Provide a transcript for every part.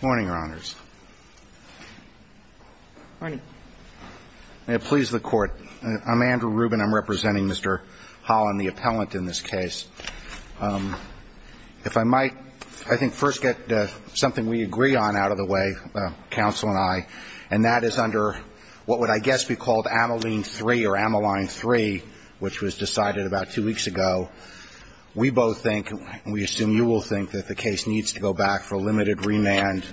Morning, Your Honors. May it please the Court. I'm Andrew Rubin. I'm representing Mr. Holland, the appellant in this case. If I might, I think first get something we agree on out of the way, counsel and I, and that is under what would, I guess, be called Ameline 3, or Ameline 3, which was decided about two weeks ago. We both think, and we assume you will think, that the case needs to go back for a limited remand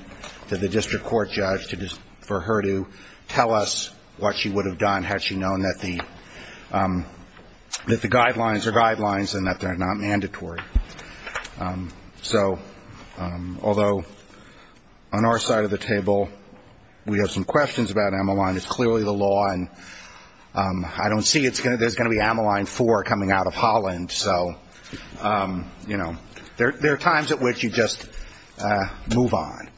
to the district court judge for her to tell us what she would have done had she known that the guidelines are guidelines and that they're not mandatory. So, although, on our side of the table, we have some questions about Ameline. It's clearly the law, and I don't see there's going to be Ameline 4 coming out of Holland. So, you know, there are times at which you just move on.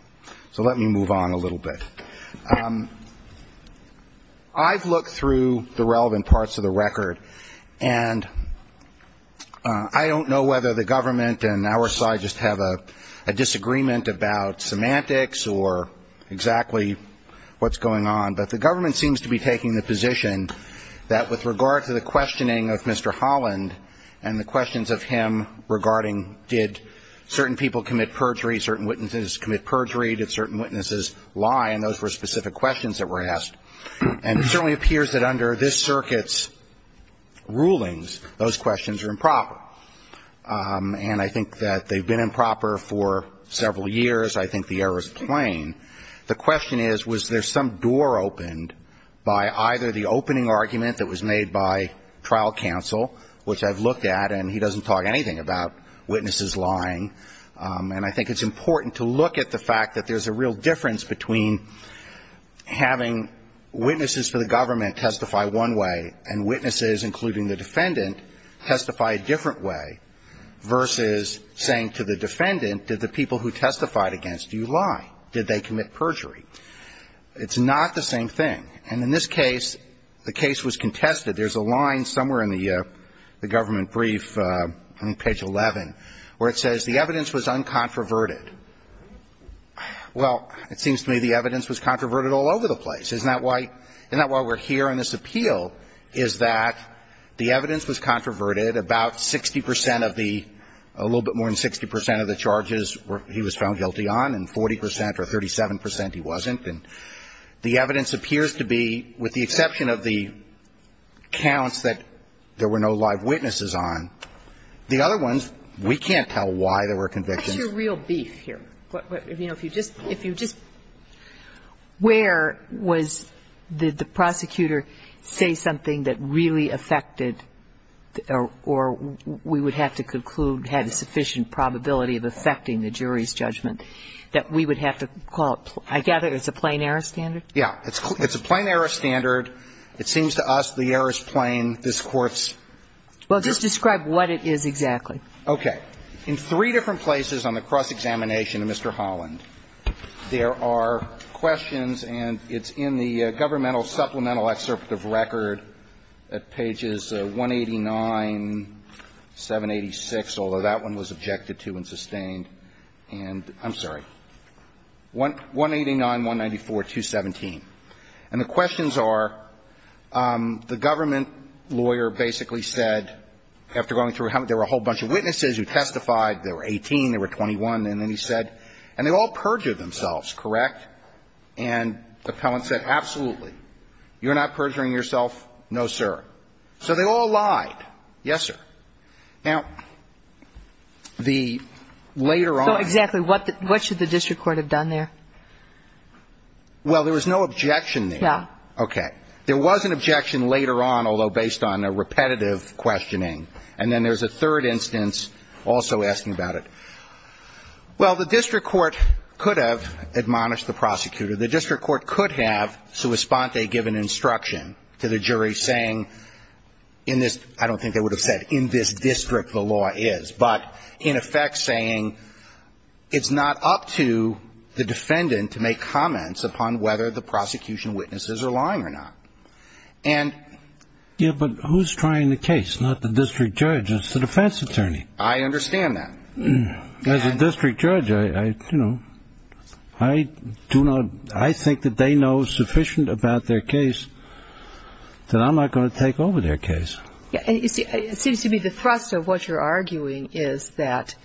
So let me move on a little bit. I've looked through the relevant parts of the record, and I don't know whether the government and our side just have a disagreement about semantics or exactly what's going on, but the government seems to be taking the position that with regard to the questioning of Mr. Holland and the questions of him regarding did certain people commit perjury, certain witnesses commit perjury, did certain witnesses lie, and those were specific questions that were asked. And it certainly appears that under this circuit's rulings, those questions are improper. And I think that they've been improper for several years. I think the error is plain. The question is, was there some door opened by either the opening argument that was made by trial counsel, which I've looked at, and he doesn't talk anything about witnesses lying, and I think it's important to look at the fact that there's a real difference between having witnesses for the government testify one way and witnesses, including the defendant, testify a different way, versus saying to the defendant, did the people who testified against you lie? Did they commit perjury? It's not the same thing. And in this case, the case was contested. There's a line somewhere in the government brief on page 11 where it says, the evidence was uncontroverted. Well, it seems to me the evidence was controverted all over the place. Isn't that why we're here on this appeal, is that the evidence was controverted, about 60 percent of the, a little bit more than 60 percent of the charges he was found guilty on, and 40 percent or 37 percent he wasn't? And the evidence appears to be, with the exception of the counts that there were no live witnesses on, the other ones, we can't tell why there were convictions. But what's your real beef here? You know, if you just, if you just, where was, did the prosecutor say something that really affected, or we would have to conclude that it had a sufficient probability of affecting the jury's judgment, that we would have to call it, I gather it's a plain error standard? Yeah. It's a plain error standard. It seems to us the error is plain. This Court's Just describe what it is exactly. Okay. In three different places on the cross-examination of Mr. Holland, there are questions, and it's in the governmental supplemental excerpt of record at pages 189, 187, 186, although that one was objected to and sustained, and, I'm sorry, 189, 194, 217. And the questions are, the government lawyer basically said, after going through, there were a whole bunch of witnesses who testified, they were 18, they were 21, and then he said, and they all perjured themselves, correct? And the appellant said, absolutely. You're not perjuring yourself? No, sir. So they all lied. Yes, sir. Now, the later on. So, exactly, what should the district court have done there? Well, there was no objection there. No. Okay. There was an objection later on, although based on a repetitive questioning. And then there's a third instance also asking about it. Well, the district court could have admonished the prosecutor. The district court could have, sua sponte, given instruction to the jury saying, in this, I don't think they would have said, in this district the law is. But, in effect, saying, it's not up to the defendant to make comments upon whether the prosecution witnesses are lying or not. And. Yeah, but who's trying the case? Not the district judge, it's the defense attorney. I understand that. As a district judge, I, you know, I do not, I think that they know sufficient about their case that I'm not going to take over their case. It seems to me the thrust of what you're arguing is that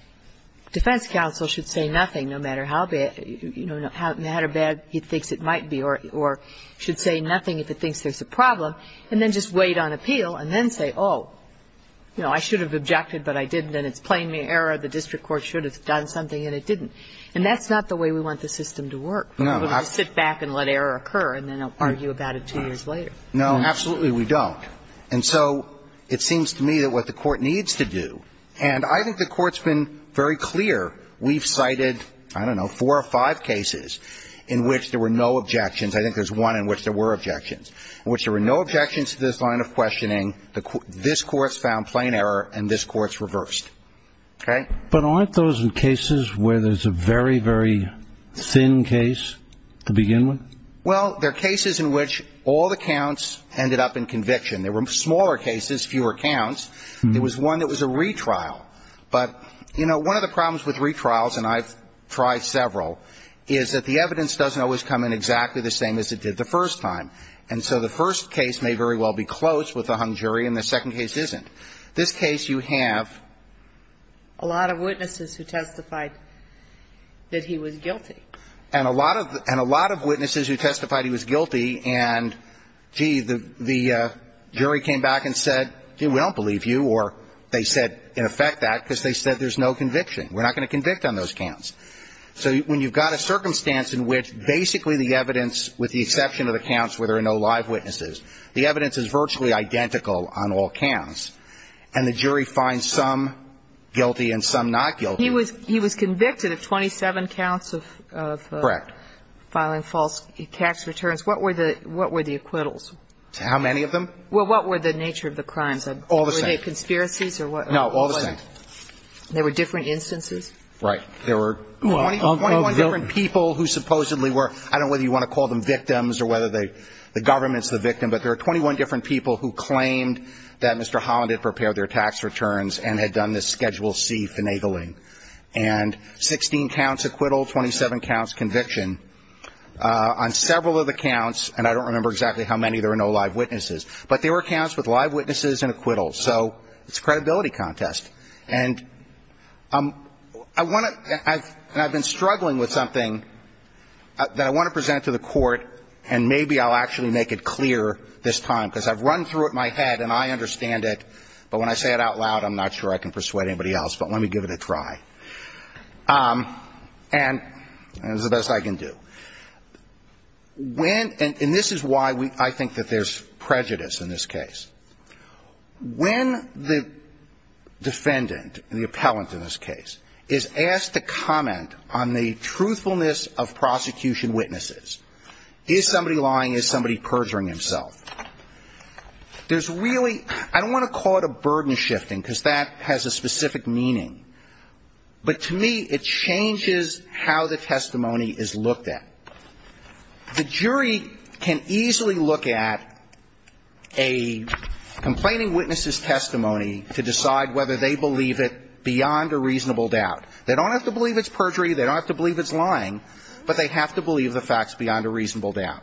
defense counsel should say nothing, no matter how bad, you know, no matter how bad he thinks it might be, or should say nothing if he thinks there's a problem, and then just wait on appeal, and then say, oh, you know, I should have objected, but I didn't, and it's plainly error. The district court should have done something, and it didn't. And that's not the way we want the system to work. No. We want to sit back and let error occur, and then argue about it two years later. No, absolutely we don't. And so, it seems to me that what the court needs to do, and I think the court's been very clear, we've cited, I don't know, four or five cases in which there were no objections, I think there's one in which there were objections, in which there were no objections to this line of questioning, this court's found plain error, and this court's reversed. Okay? But aren't those cases where there's a very, very thin case to begin with? Well, they're cases in which all the counts ended up in conviction. There were smaller cases, fewer counts. There was one that was a retrial. But, you know, one of the problems with retrials, and I've tried several, is that the evidence doesn't always come in exactly the same as it did the first time. And so the first case may very well be close with the hung jury, and the second case isn't. This case you have a lot of witnesses who testified that he was guilty. And a lot of witnesses who testified he was guilty, and, gee, the jury came back and said, gee, we don't believe you, or they said, in effect, that because they said there's no conviction. We're not going to convict on those counts. So when you've got a circumstance in which basically the evidence, with the exception of the counts where there are no live witnesses, the evidence is virtually identical on all counts, and the jury finds some guilty and some not guilty. But he was convicted of 27 counts of filing false tax returns. What were the acquittals? How many of them? Well, what were the nature of the crimes? All the same. Were they conspiracies? No, all the same. There were different instances? Right. There were 21 different people who supposedly were, I don't know whether you want to call them victims or whether the government's the victim, but there are 21 different people who claimed that Mr. Holland had prepared their tax returns and had done this Schedule C finagling. And 16 counts acquittal, 27 counts conviction. On several of the counts, and I don't remember exactly how many, there were no live witnesses. But there were counts with live witnesses and acquittals. So it's a credibility contest. And I want to, and I've been struggling with something that I want to present to the court, and maybe I'll actually make it clear this time, because I've run through it in my head, and I understand it. But when I say it out loud, I'm not sure I can persuade anybody else. But let me give it a try. And it's the best I can do. When, and this is why I think that there's prejudice in this case. When the defendant, the appellant in this case, is asked to comment on the truthfulness of prosecution witnesses, is somebody lying? Is somebody perjuring himself? There's really, I don't want to call it a burden shifting, because that has a specific meaning. But to me, it changes how the testimony is looked at. The jury can easily look at a complaining witness's testimony to decide whether they believe it beyond a reasonable doubt. They don't have to believe it's perjury, they don't have to believe it's lying, but they have to believe the facts beyond a reasonable doubt.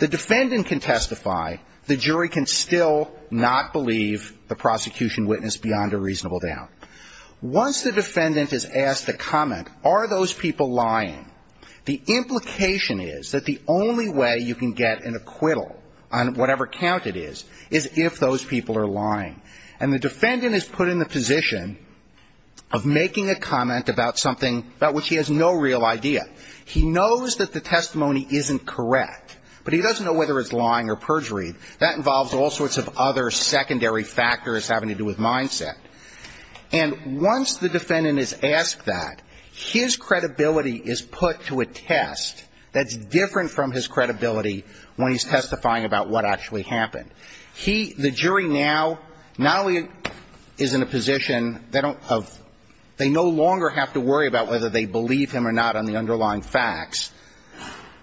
The defendant can testify, the jury can still not believe the prosecution witness beyond a reasonable doubt. Once the defendant is asked to comment, are those people lying? The implication is that the only way you can get an acquittal on whatever count it is, is if those people are lying. And the defendant is put in the position of making a comment about something about which he has no real idea. He knows that the testimony isn't correct, but he doesn't know whether it's lying or perjury. That involves all sorts of other secondary factors having to do with mindset. And once the defendant is asked that, his credibility is put to a test that's different from his credibility when he's testifying about what actually happened. He, the jury now, not only is in a position of, they no longer have to worry about whether they believe him or not on the underlying facts,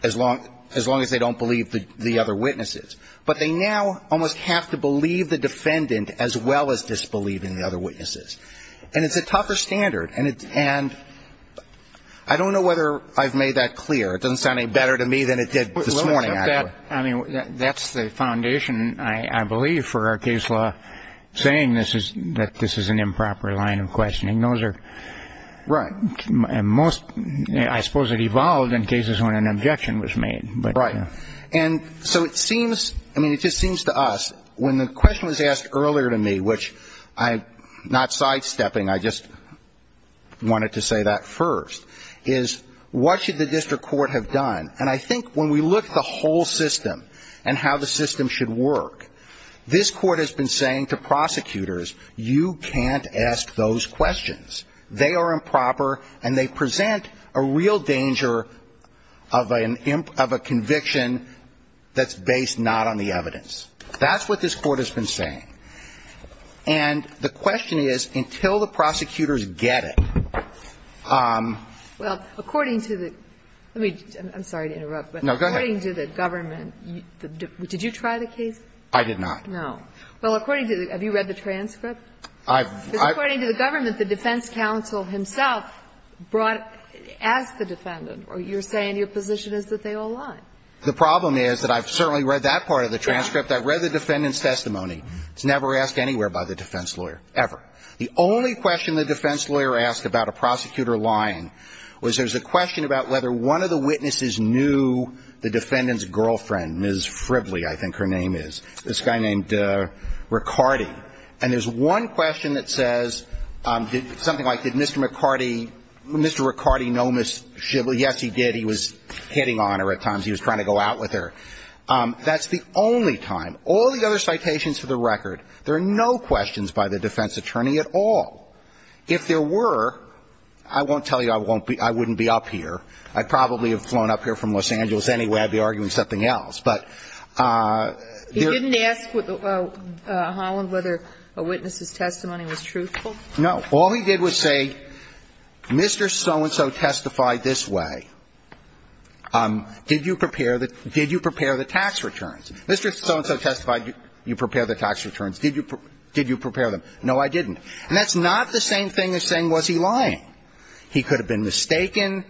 as long as they don't believe the other witnesses. But they now almost have to believe the defendant as well as disbelieve in the other witnesses. And it's a tougher standard. And I don't know whether I've made that clear. It doesn't sound any better to me than it did this morning, actually. I mean, that's the foundation, I believe, for our case law, saying that this is an improper line of questioning. Right. And most, I suppose, it evolved in cases when an objection was made. Right. And so it seems, I mean, it just seems to us, when the question was asked earlier to me, which I'm not sidestepping, I just wanted to say that first, is what should the district court have done? And I think when we look at the whole system and how the system should work, this is a very important question. We can't ask those questions. They are improper and they present a real danger of a conviction that's based not on the evidence. That's what this Court has been saying. And the question is, until the prosecutors get it. Well, according to the – I'm sorry to interrupt, but according to the government – did you try the case? I did not. No. Well, according to the – have you read the transcript? I've – Because according to the government, the defense counsel himself brought – asked the defendant. You're saying your position is that they all lied. The problem is that I've certainly read that part of the transcript. I've read the defendant's testimony. It's never asked anywhere by the defense lawyer, ever. The only question the defense lawyer asked about a prosecutor lying was there's a question about whether one of the witnesses knew the defendant's girlfriend, Ms. Fribley, I think her name is. This guy named Riccardi. And there's one question that says something like, did Mr. Riccardi know Ms. Fribley? Yes, he did. He was hitting on her at times. He was trying to go out with her. That's the only time. All the other citations for the record, there are no questions by the defense attorney at all. If there were, I won't tell you I wouldn't be up here. I'd probably have flown up here from Los Angeles anyway. I'd be arguing something else. He didn't ask Holland whether a witness's testimony was truthful? No. All he did was say, Mr. So-and-so testified this way. Did you prepare the tax returns? Mr. So-and-so testified you prepared the tax returns. Did you prepare them? No, I didn't. And that's not the same thing as saying was he lying. He could have been mistaken.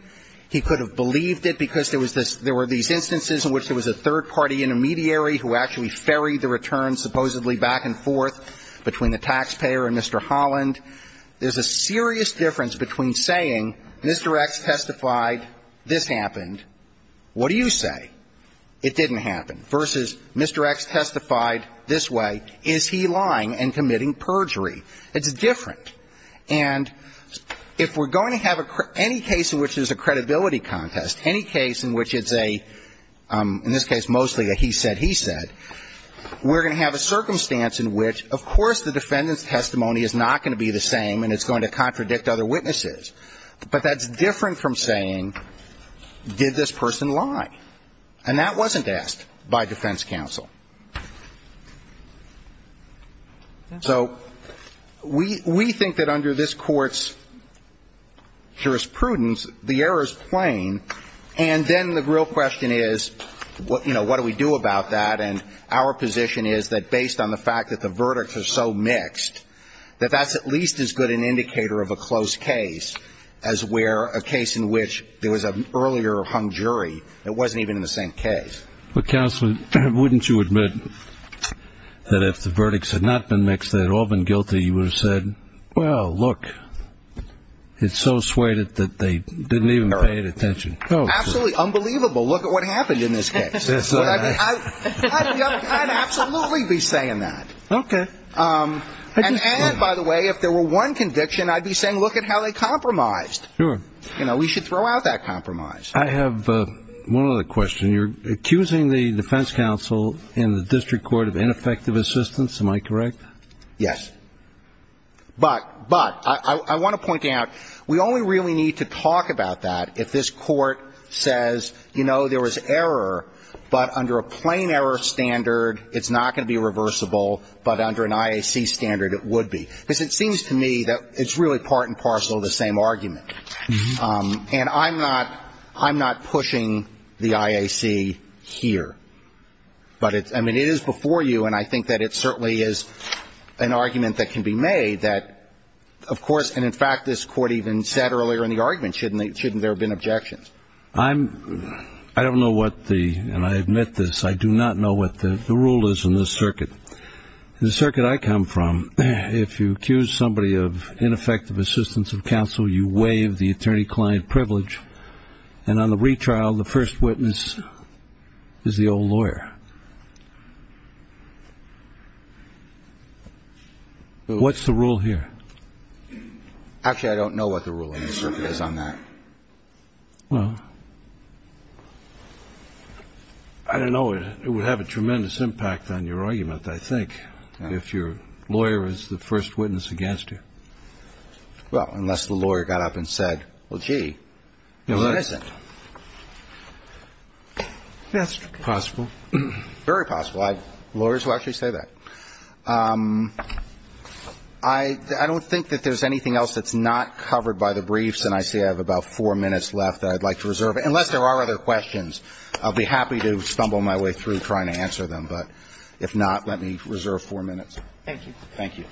He could have believed it because there were these instances in which there was a third party intermediary who actually ferried the returns supposedly back and forth between the taxpayer and Mr. Holland. There's a serious difference between saying Mr. X testified this happened. What do you say? It didn't happen. Versus Mr. X testified this way. Is he lying and committing perjury? It's different. And if we're going to have any case in which there's a credibility contest, any case in which it's a, in this case, mostly a he said, he said, we're going to have a circumstance in which, of course, the defendant's testimony is not going to be the same and it's going to contradict other witnesses. But that's different from saying did this person lie? And that wasn't asked by defense counsel. So we think that under this court's jurisprudence, the error is plain. And then the real question is, you know, what do we do about that? And our position is that based on the fact that the verdicts are so mixed, that that's at least as good an indicator of a close case as where a case in which there was an earlier hung jury that wasn't even in the same case. Well, counsel, wouldn't you admit that if the verdicts had not been mixed, they'd all been guilty, you would have said, well, look, it's so suede that they didn't even pay attention. Oh, absolutely. Unbelievable. Look at what happened in this case. I'd absolutely be saying that. Okay. And by the way, if there were one conviction, I'd be saying, look at how they compromised. You know, we should throw out that compromise. I have one other question. You're accusing the defense counsel in the district court of ineffective assistance. Am I correct? Yes. But I want to point out, we only really need to talk about that if this court says, you know, there was error, but under a plain error standard, it's not going to be reversible, but under an IAC standard, it would be. Because it seems to me that it's really part and parcel of the same argument. And I'm not pushing the IAC here, but I mean, it is before you, and I think that it certainly is an argument that can be made that, of course, and in fact, this court even said earlier in the argument, shouldn't there have been objections? I don't know what the, and I admit this, I do not know what the rule is in this circuit. The circuit I come from, if you accuse somebody of ineffective assistance of counsel, you waive the attorney-client privilege. And on the retrial, the first witness is the old lawyer. What's the rule here? Actually, I don't know what the rule in this circuit is on that. Well, I don't know. It would have a tremendous impact on your argument, I think, if your lawyer is the first witness against you. Well, unless the lawyer got up and said, well, gee, he's innocent. That's possible. Very possible. Lawyers will actually say that. I don't think that there's anything else that's not covered by the briefs. And I see I have about four minutes left that I'd like to reserve, unless there are other questions. I'll be happy to stumble my way through trying to answer them. But if not, let me reserve four minutes. Thank you. Thank you.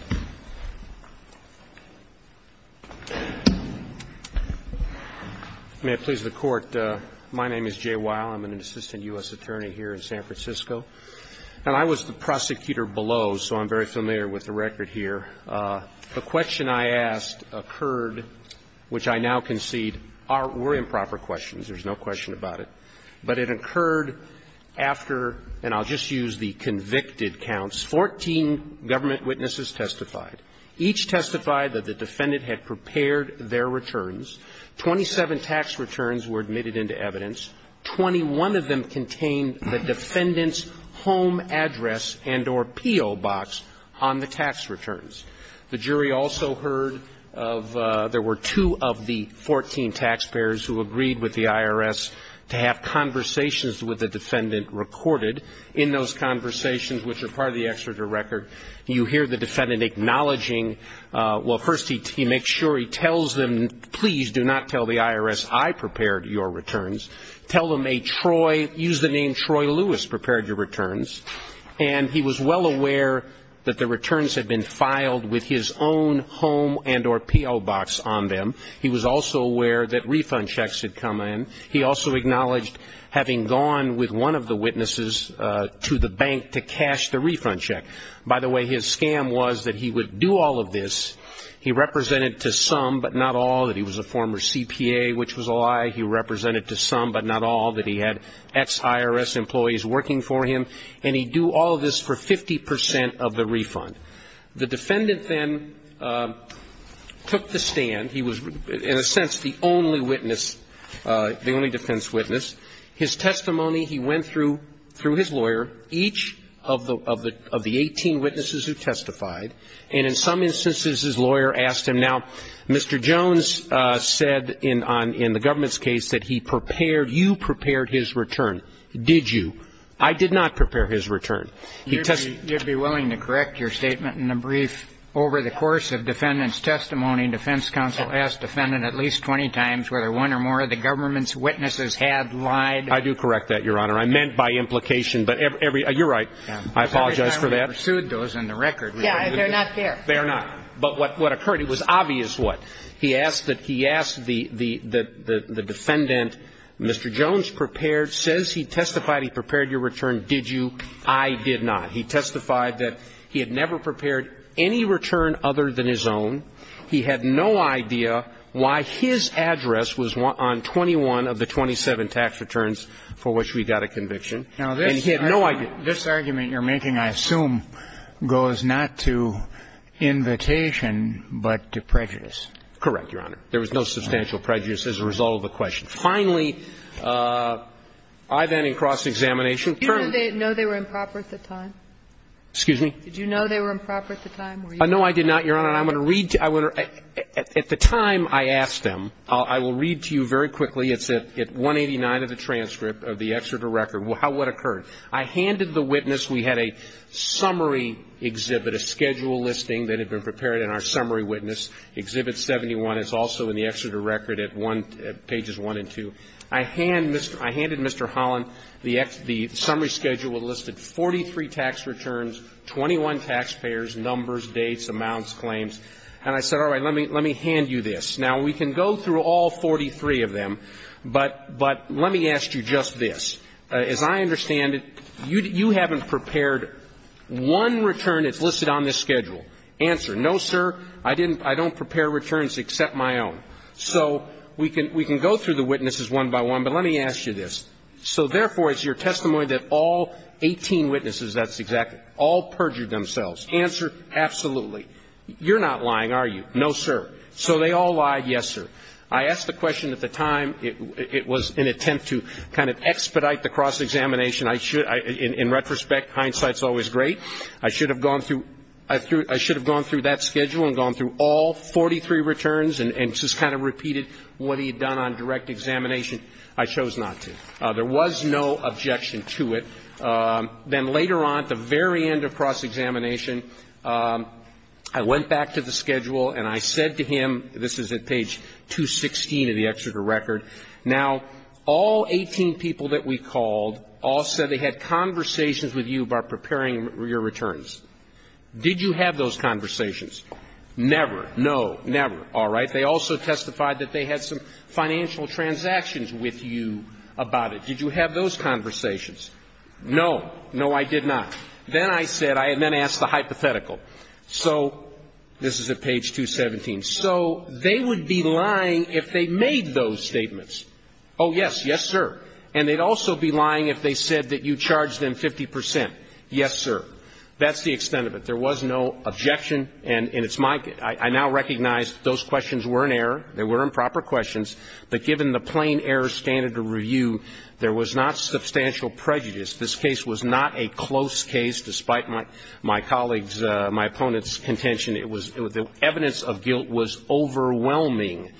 May it please the Court. My name is Jay Weil. I'm an assistant U.S. attorney here in San Francisco. And I was the prosecutor below, so I'm very familiar with the record here. The question I asked occurred, which I now concede were improper questions. There's no question about it. But it occurred after, and I'll just use the convicted counts, 14 government witnesses testified. Each testified that the defendant had prepared their returns. Twenty-seven tax returns were admitted into evidence. Twenty-one of them contained the defendant's home address and or P.O. box on the tax returns. The jury also heard of there were two of the 14 taxpayers who agreed with the IRS to have conversations with the defendant recorded. In those conversations, which are part of the exerted record, you hear the defendant acknowledging, well, first he makes sure he tells them, please do not tell the IRS I prepared your returns. Tell them a Troy, use the name Troy Lewis, prepared your returns. And he was well aware that the returns had been filed with his own home and or P.O. box on them. He was also aware that refund checks had come in. He also acknowledged having gone with one of the witnesses to the bank to cash the refund check. By the way, his scam was that he would do all of this. He represented to some, but not all, that he was a former CPA, which was a lie. He represented to some, but not all, that he had ex-IRS employees working for him. And he'd do all of this for 50 percent of the refund. The defendant then took the stand. He was, in a sense, the only witness, the only defense witness. His testimony, he went through his lawyer, each of the 18 witnesses who testified. And in some instances, his lawyer asked him, now, Mr. Jones said in the government's case that he prepared, you prepared his return. Did you? I did not prepare his return. He testified. You'd be willing to correct your statement in the brief over the course of defendant's testimony, defense counsel asked defendant at least 20 times whether one or more of the government's witnesses had lied. I do correct that, Your Honor. I meant by implication. But every, you're right. I apologize for that. We pursued those in the record. Yeah, they're not there. They are not. But what occurred, it was obvious what. He asked that, he asked the defendant, Mr. Jones prepared, says he testified he prepared your return. Did you? I did not. He testified that he had never prepared any return other than his own. He had no idea why his address was on 21 of the 27 tax returns for which we got a conviction. And he had no idea. Now, this argument you're making, I assume, goes not to invitation but to prejudice. Correct, Your Honor. There was no substantial prejudice as a result of the question. Finally, I then in cross-examination. Do you know they were improper at the time? Excuse me? Did you know they were improper at the time? No, I did not, Your Honor. And I'm going to read to you. At the time I asked him, I will read to you very quickly. It's at 189 of the transcript of the Exeter record, what occurred. I handed the witness. We had a summary exhibit, a schedule listing that had been prepared in our summary witness, Exhibit 71. It's also in the Exeter record at pages 1 and 2. I handed Mr. Holland the summary schedule that listed 43 tax returns, 21 taxpayers, numbers, dates, amounts, claims. And I said, all right, let me hand you this. Now, we can go through all 43 of them, but let me ask you just this. As I understand it, you haven't prepared one return that's listed on this schedule. Answer, no, sir. I don't prepare returns except my own. So we can go through the witnesses one by one, but let me ask you this. So therefore, it's your testimony that all 18 witnesses, that's exact, all perjured themselves. Answer, absolutely. You're not lying, are you? No, sir. So they all lied, yes, sir. I asked the question at the time. It was an attempt to kind of expedite the cross-examination. In retrospect, hindsight is always great. I should have gone through that schedule and gone through all 43 returns and just kind of repeated what he had done on direct examination. I chose not to. There was no objection to it. Then later on, at the very end of cross-examination, I went back to the schedule and I said to him, this is at page 216 of the Exeter record, now all 18 people that we called all said they had conversations with you about preparing your returns. Did you have those conversations? Never. No. Never. All right. They also testified that they had some financial transactions with you about it. Did you have those conversations? No. No, I did not. Then I said, I then asked the hypothetical. So this is at page 217. So they would be lying if they made those statements. Oh, yes. Yes, sir. And they'd also be lying if they said that you charged them 50 percent. Yes, sir. That's the extent of it. There was no objection, and it's my case. I now recognize those questions were in error, they were improper questions, but given the plain error standard of review, there was not substantial prejudice. This case was not a close case, despite my colleague's, my opponent's contention. It was the evidence of guilt was overwhelming,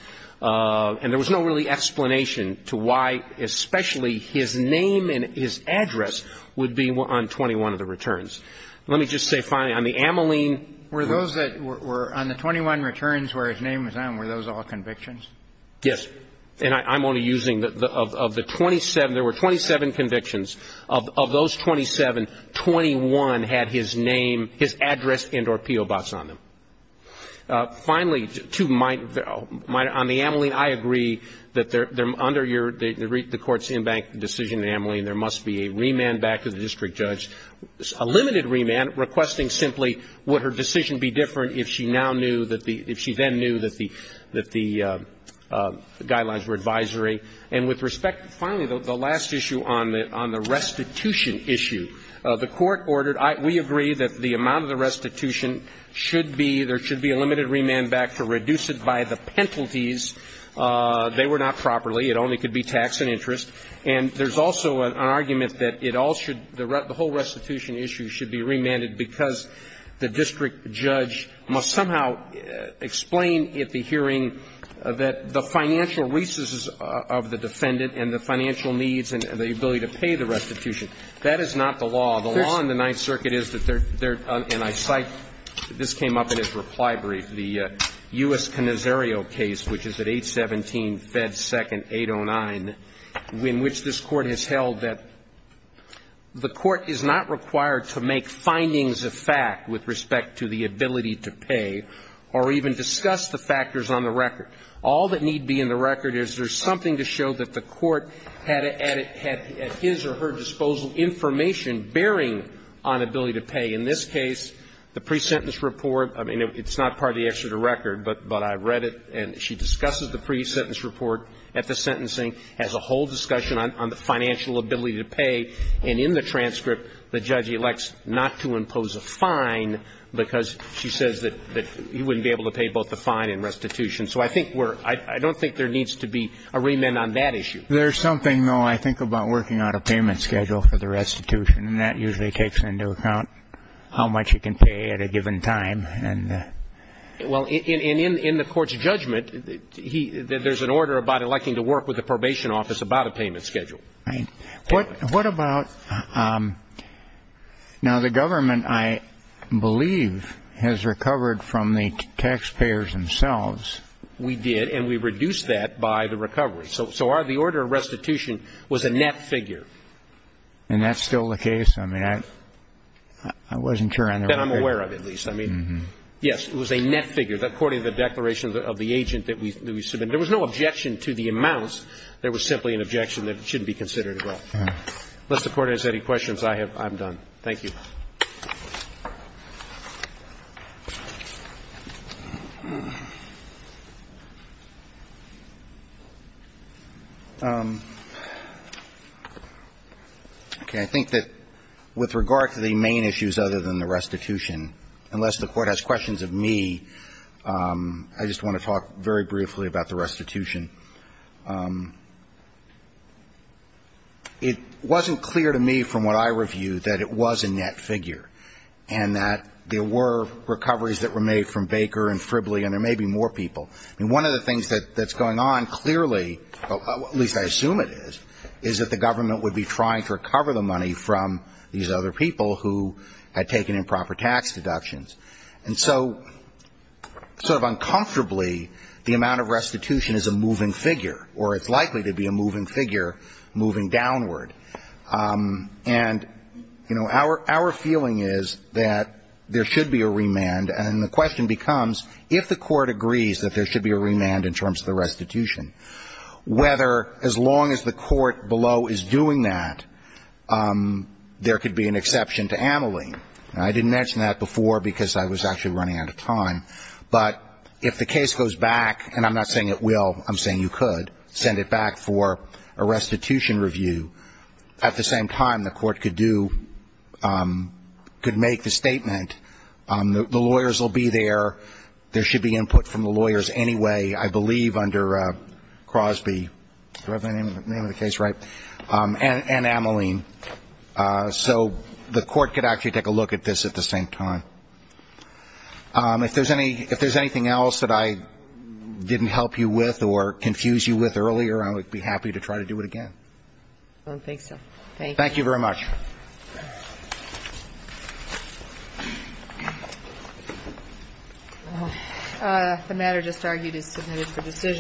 and there was no really explanation to why especially his name and his address would be on 21 of the returns. Let me just say finally, on the amyline. Were those that were on the 21 returns where his name was on, were those all convictions? Yes. And I'm only using of the 27, there were 27 convictions. Of those 27, 21 had his name, his address and or PO box on them. Finally, to my, on the amyline, I agree that they're under your, the court's in-bank decision amyline, there must be a remand back to the district judge, a And I think that her decision would be different if she now knew that the, if she then knew that the, that the guidelines were advisory. And with respect, finally, the last issue on the restitution issue. The court ordered, we agree that the amount of the restitution should be, there should be a limited remand back to reduce it by the penalties. They were not properly. It only could be tax and interest. And there's also an argument that it all should, the whole restitution issue should be remanded because the district judge must somehow explain at the hearing that the financial resources of the defendant and the financial needs and the ability to pay the restitution. That is not the law. The law in the Ninth Circuit is that there, and I cite, this came up in his reply brief, the U.S. Canisario case, which is at 817 Fed 2nd 809, in which this court has held that the court is not required to make findings of fact with respect to the ability to pay or even discuss the factors on the record. All that need be in the record is there's something to show that the court had at his or her disposal information bearing on ability to pay. In this case, the pre-sentence report, I mean, it's not part of the Exeter record, but I read it. And she discusses the pre-sentence report at the sentencing, has a whole discussion on the financial ability to pay. And in the transcript, the judge elects not to impose a fine because she says that he wouldn't be able to pay both the fine and restitution. So I think we're, I don't think there needs to be a remand on that issue. There's something, though, I think about working out a payment schedule for the restitution, and that usually takes into account how much you can pay at a given time. Well, in the court's judgment, there's an order about electing to work with the probation office about a payment schedule. Right. What about, now, the government, I believe, has recovered from the taxpayers themselves. We did, and we reduced that by the recovery. So the order of restitution was a net figure. And that's still the case? I mean, I wasn't sure on the record. That I'm aware of, at least. I mean, yes, it was a net figure. According to the declaration of the agent that we submitted, there was no objection to the amounts. There was simply an objection that it shouldn't be considered at all. Unless the Court has any questions, I'm done. Thank you. Okay. I think that with regard to the main issues other than the restitution, unless the Court has questions of me, I just want to talk very briefly about the restitution. It wasn't clear to me from what I reviewed that it was a net figure, and that there were recoveries that were made from Baker and Fribley, and there may be more people. I mean, one of the things that's going on clearly, at least I assume it is, is that the government would be trying to recover the money from these other people who had taken improper tax deductions. And so, sort of uncomfortably, the amount of restitution is a moving figure, or it's likely to be a moving figure moving downward. And, you know, our feeling is that there should be a remand, and the question becomes, if the Court agrees that there should be a remand in terms of the restitution, whether, as long as the Court below is doing that, there could be an exception to Ameline. And I didn't mention that before, because I was actually running out of time, but if the case goes back, and I'm not saying it will, I'm saying you could, send it back for a restitution review. At the same time, the Court could do, could make the statement, the lawyers will be there, there should be input from the lawyers anyway, I believe, under Crosby. Do I have the name of the case right? And Ameline. So, the Court could actually take a look at this at the same time. If there's any, if there's anything else that I didn't help you with, or confuse you with earlier, I would be happy to try to do it again. I don't think so. Thank you. Thank you very much. The matter just argued is submitted for decision.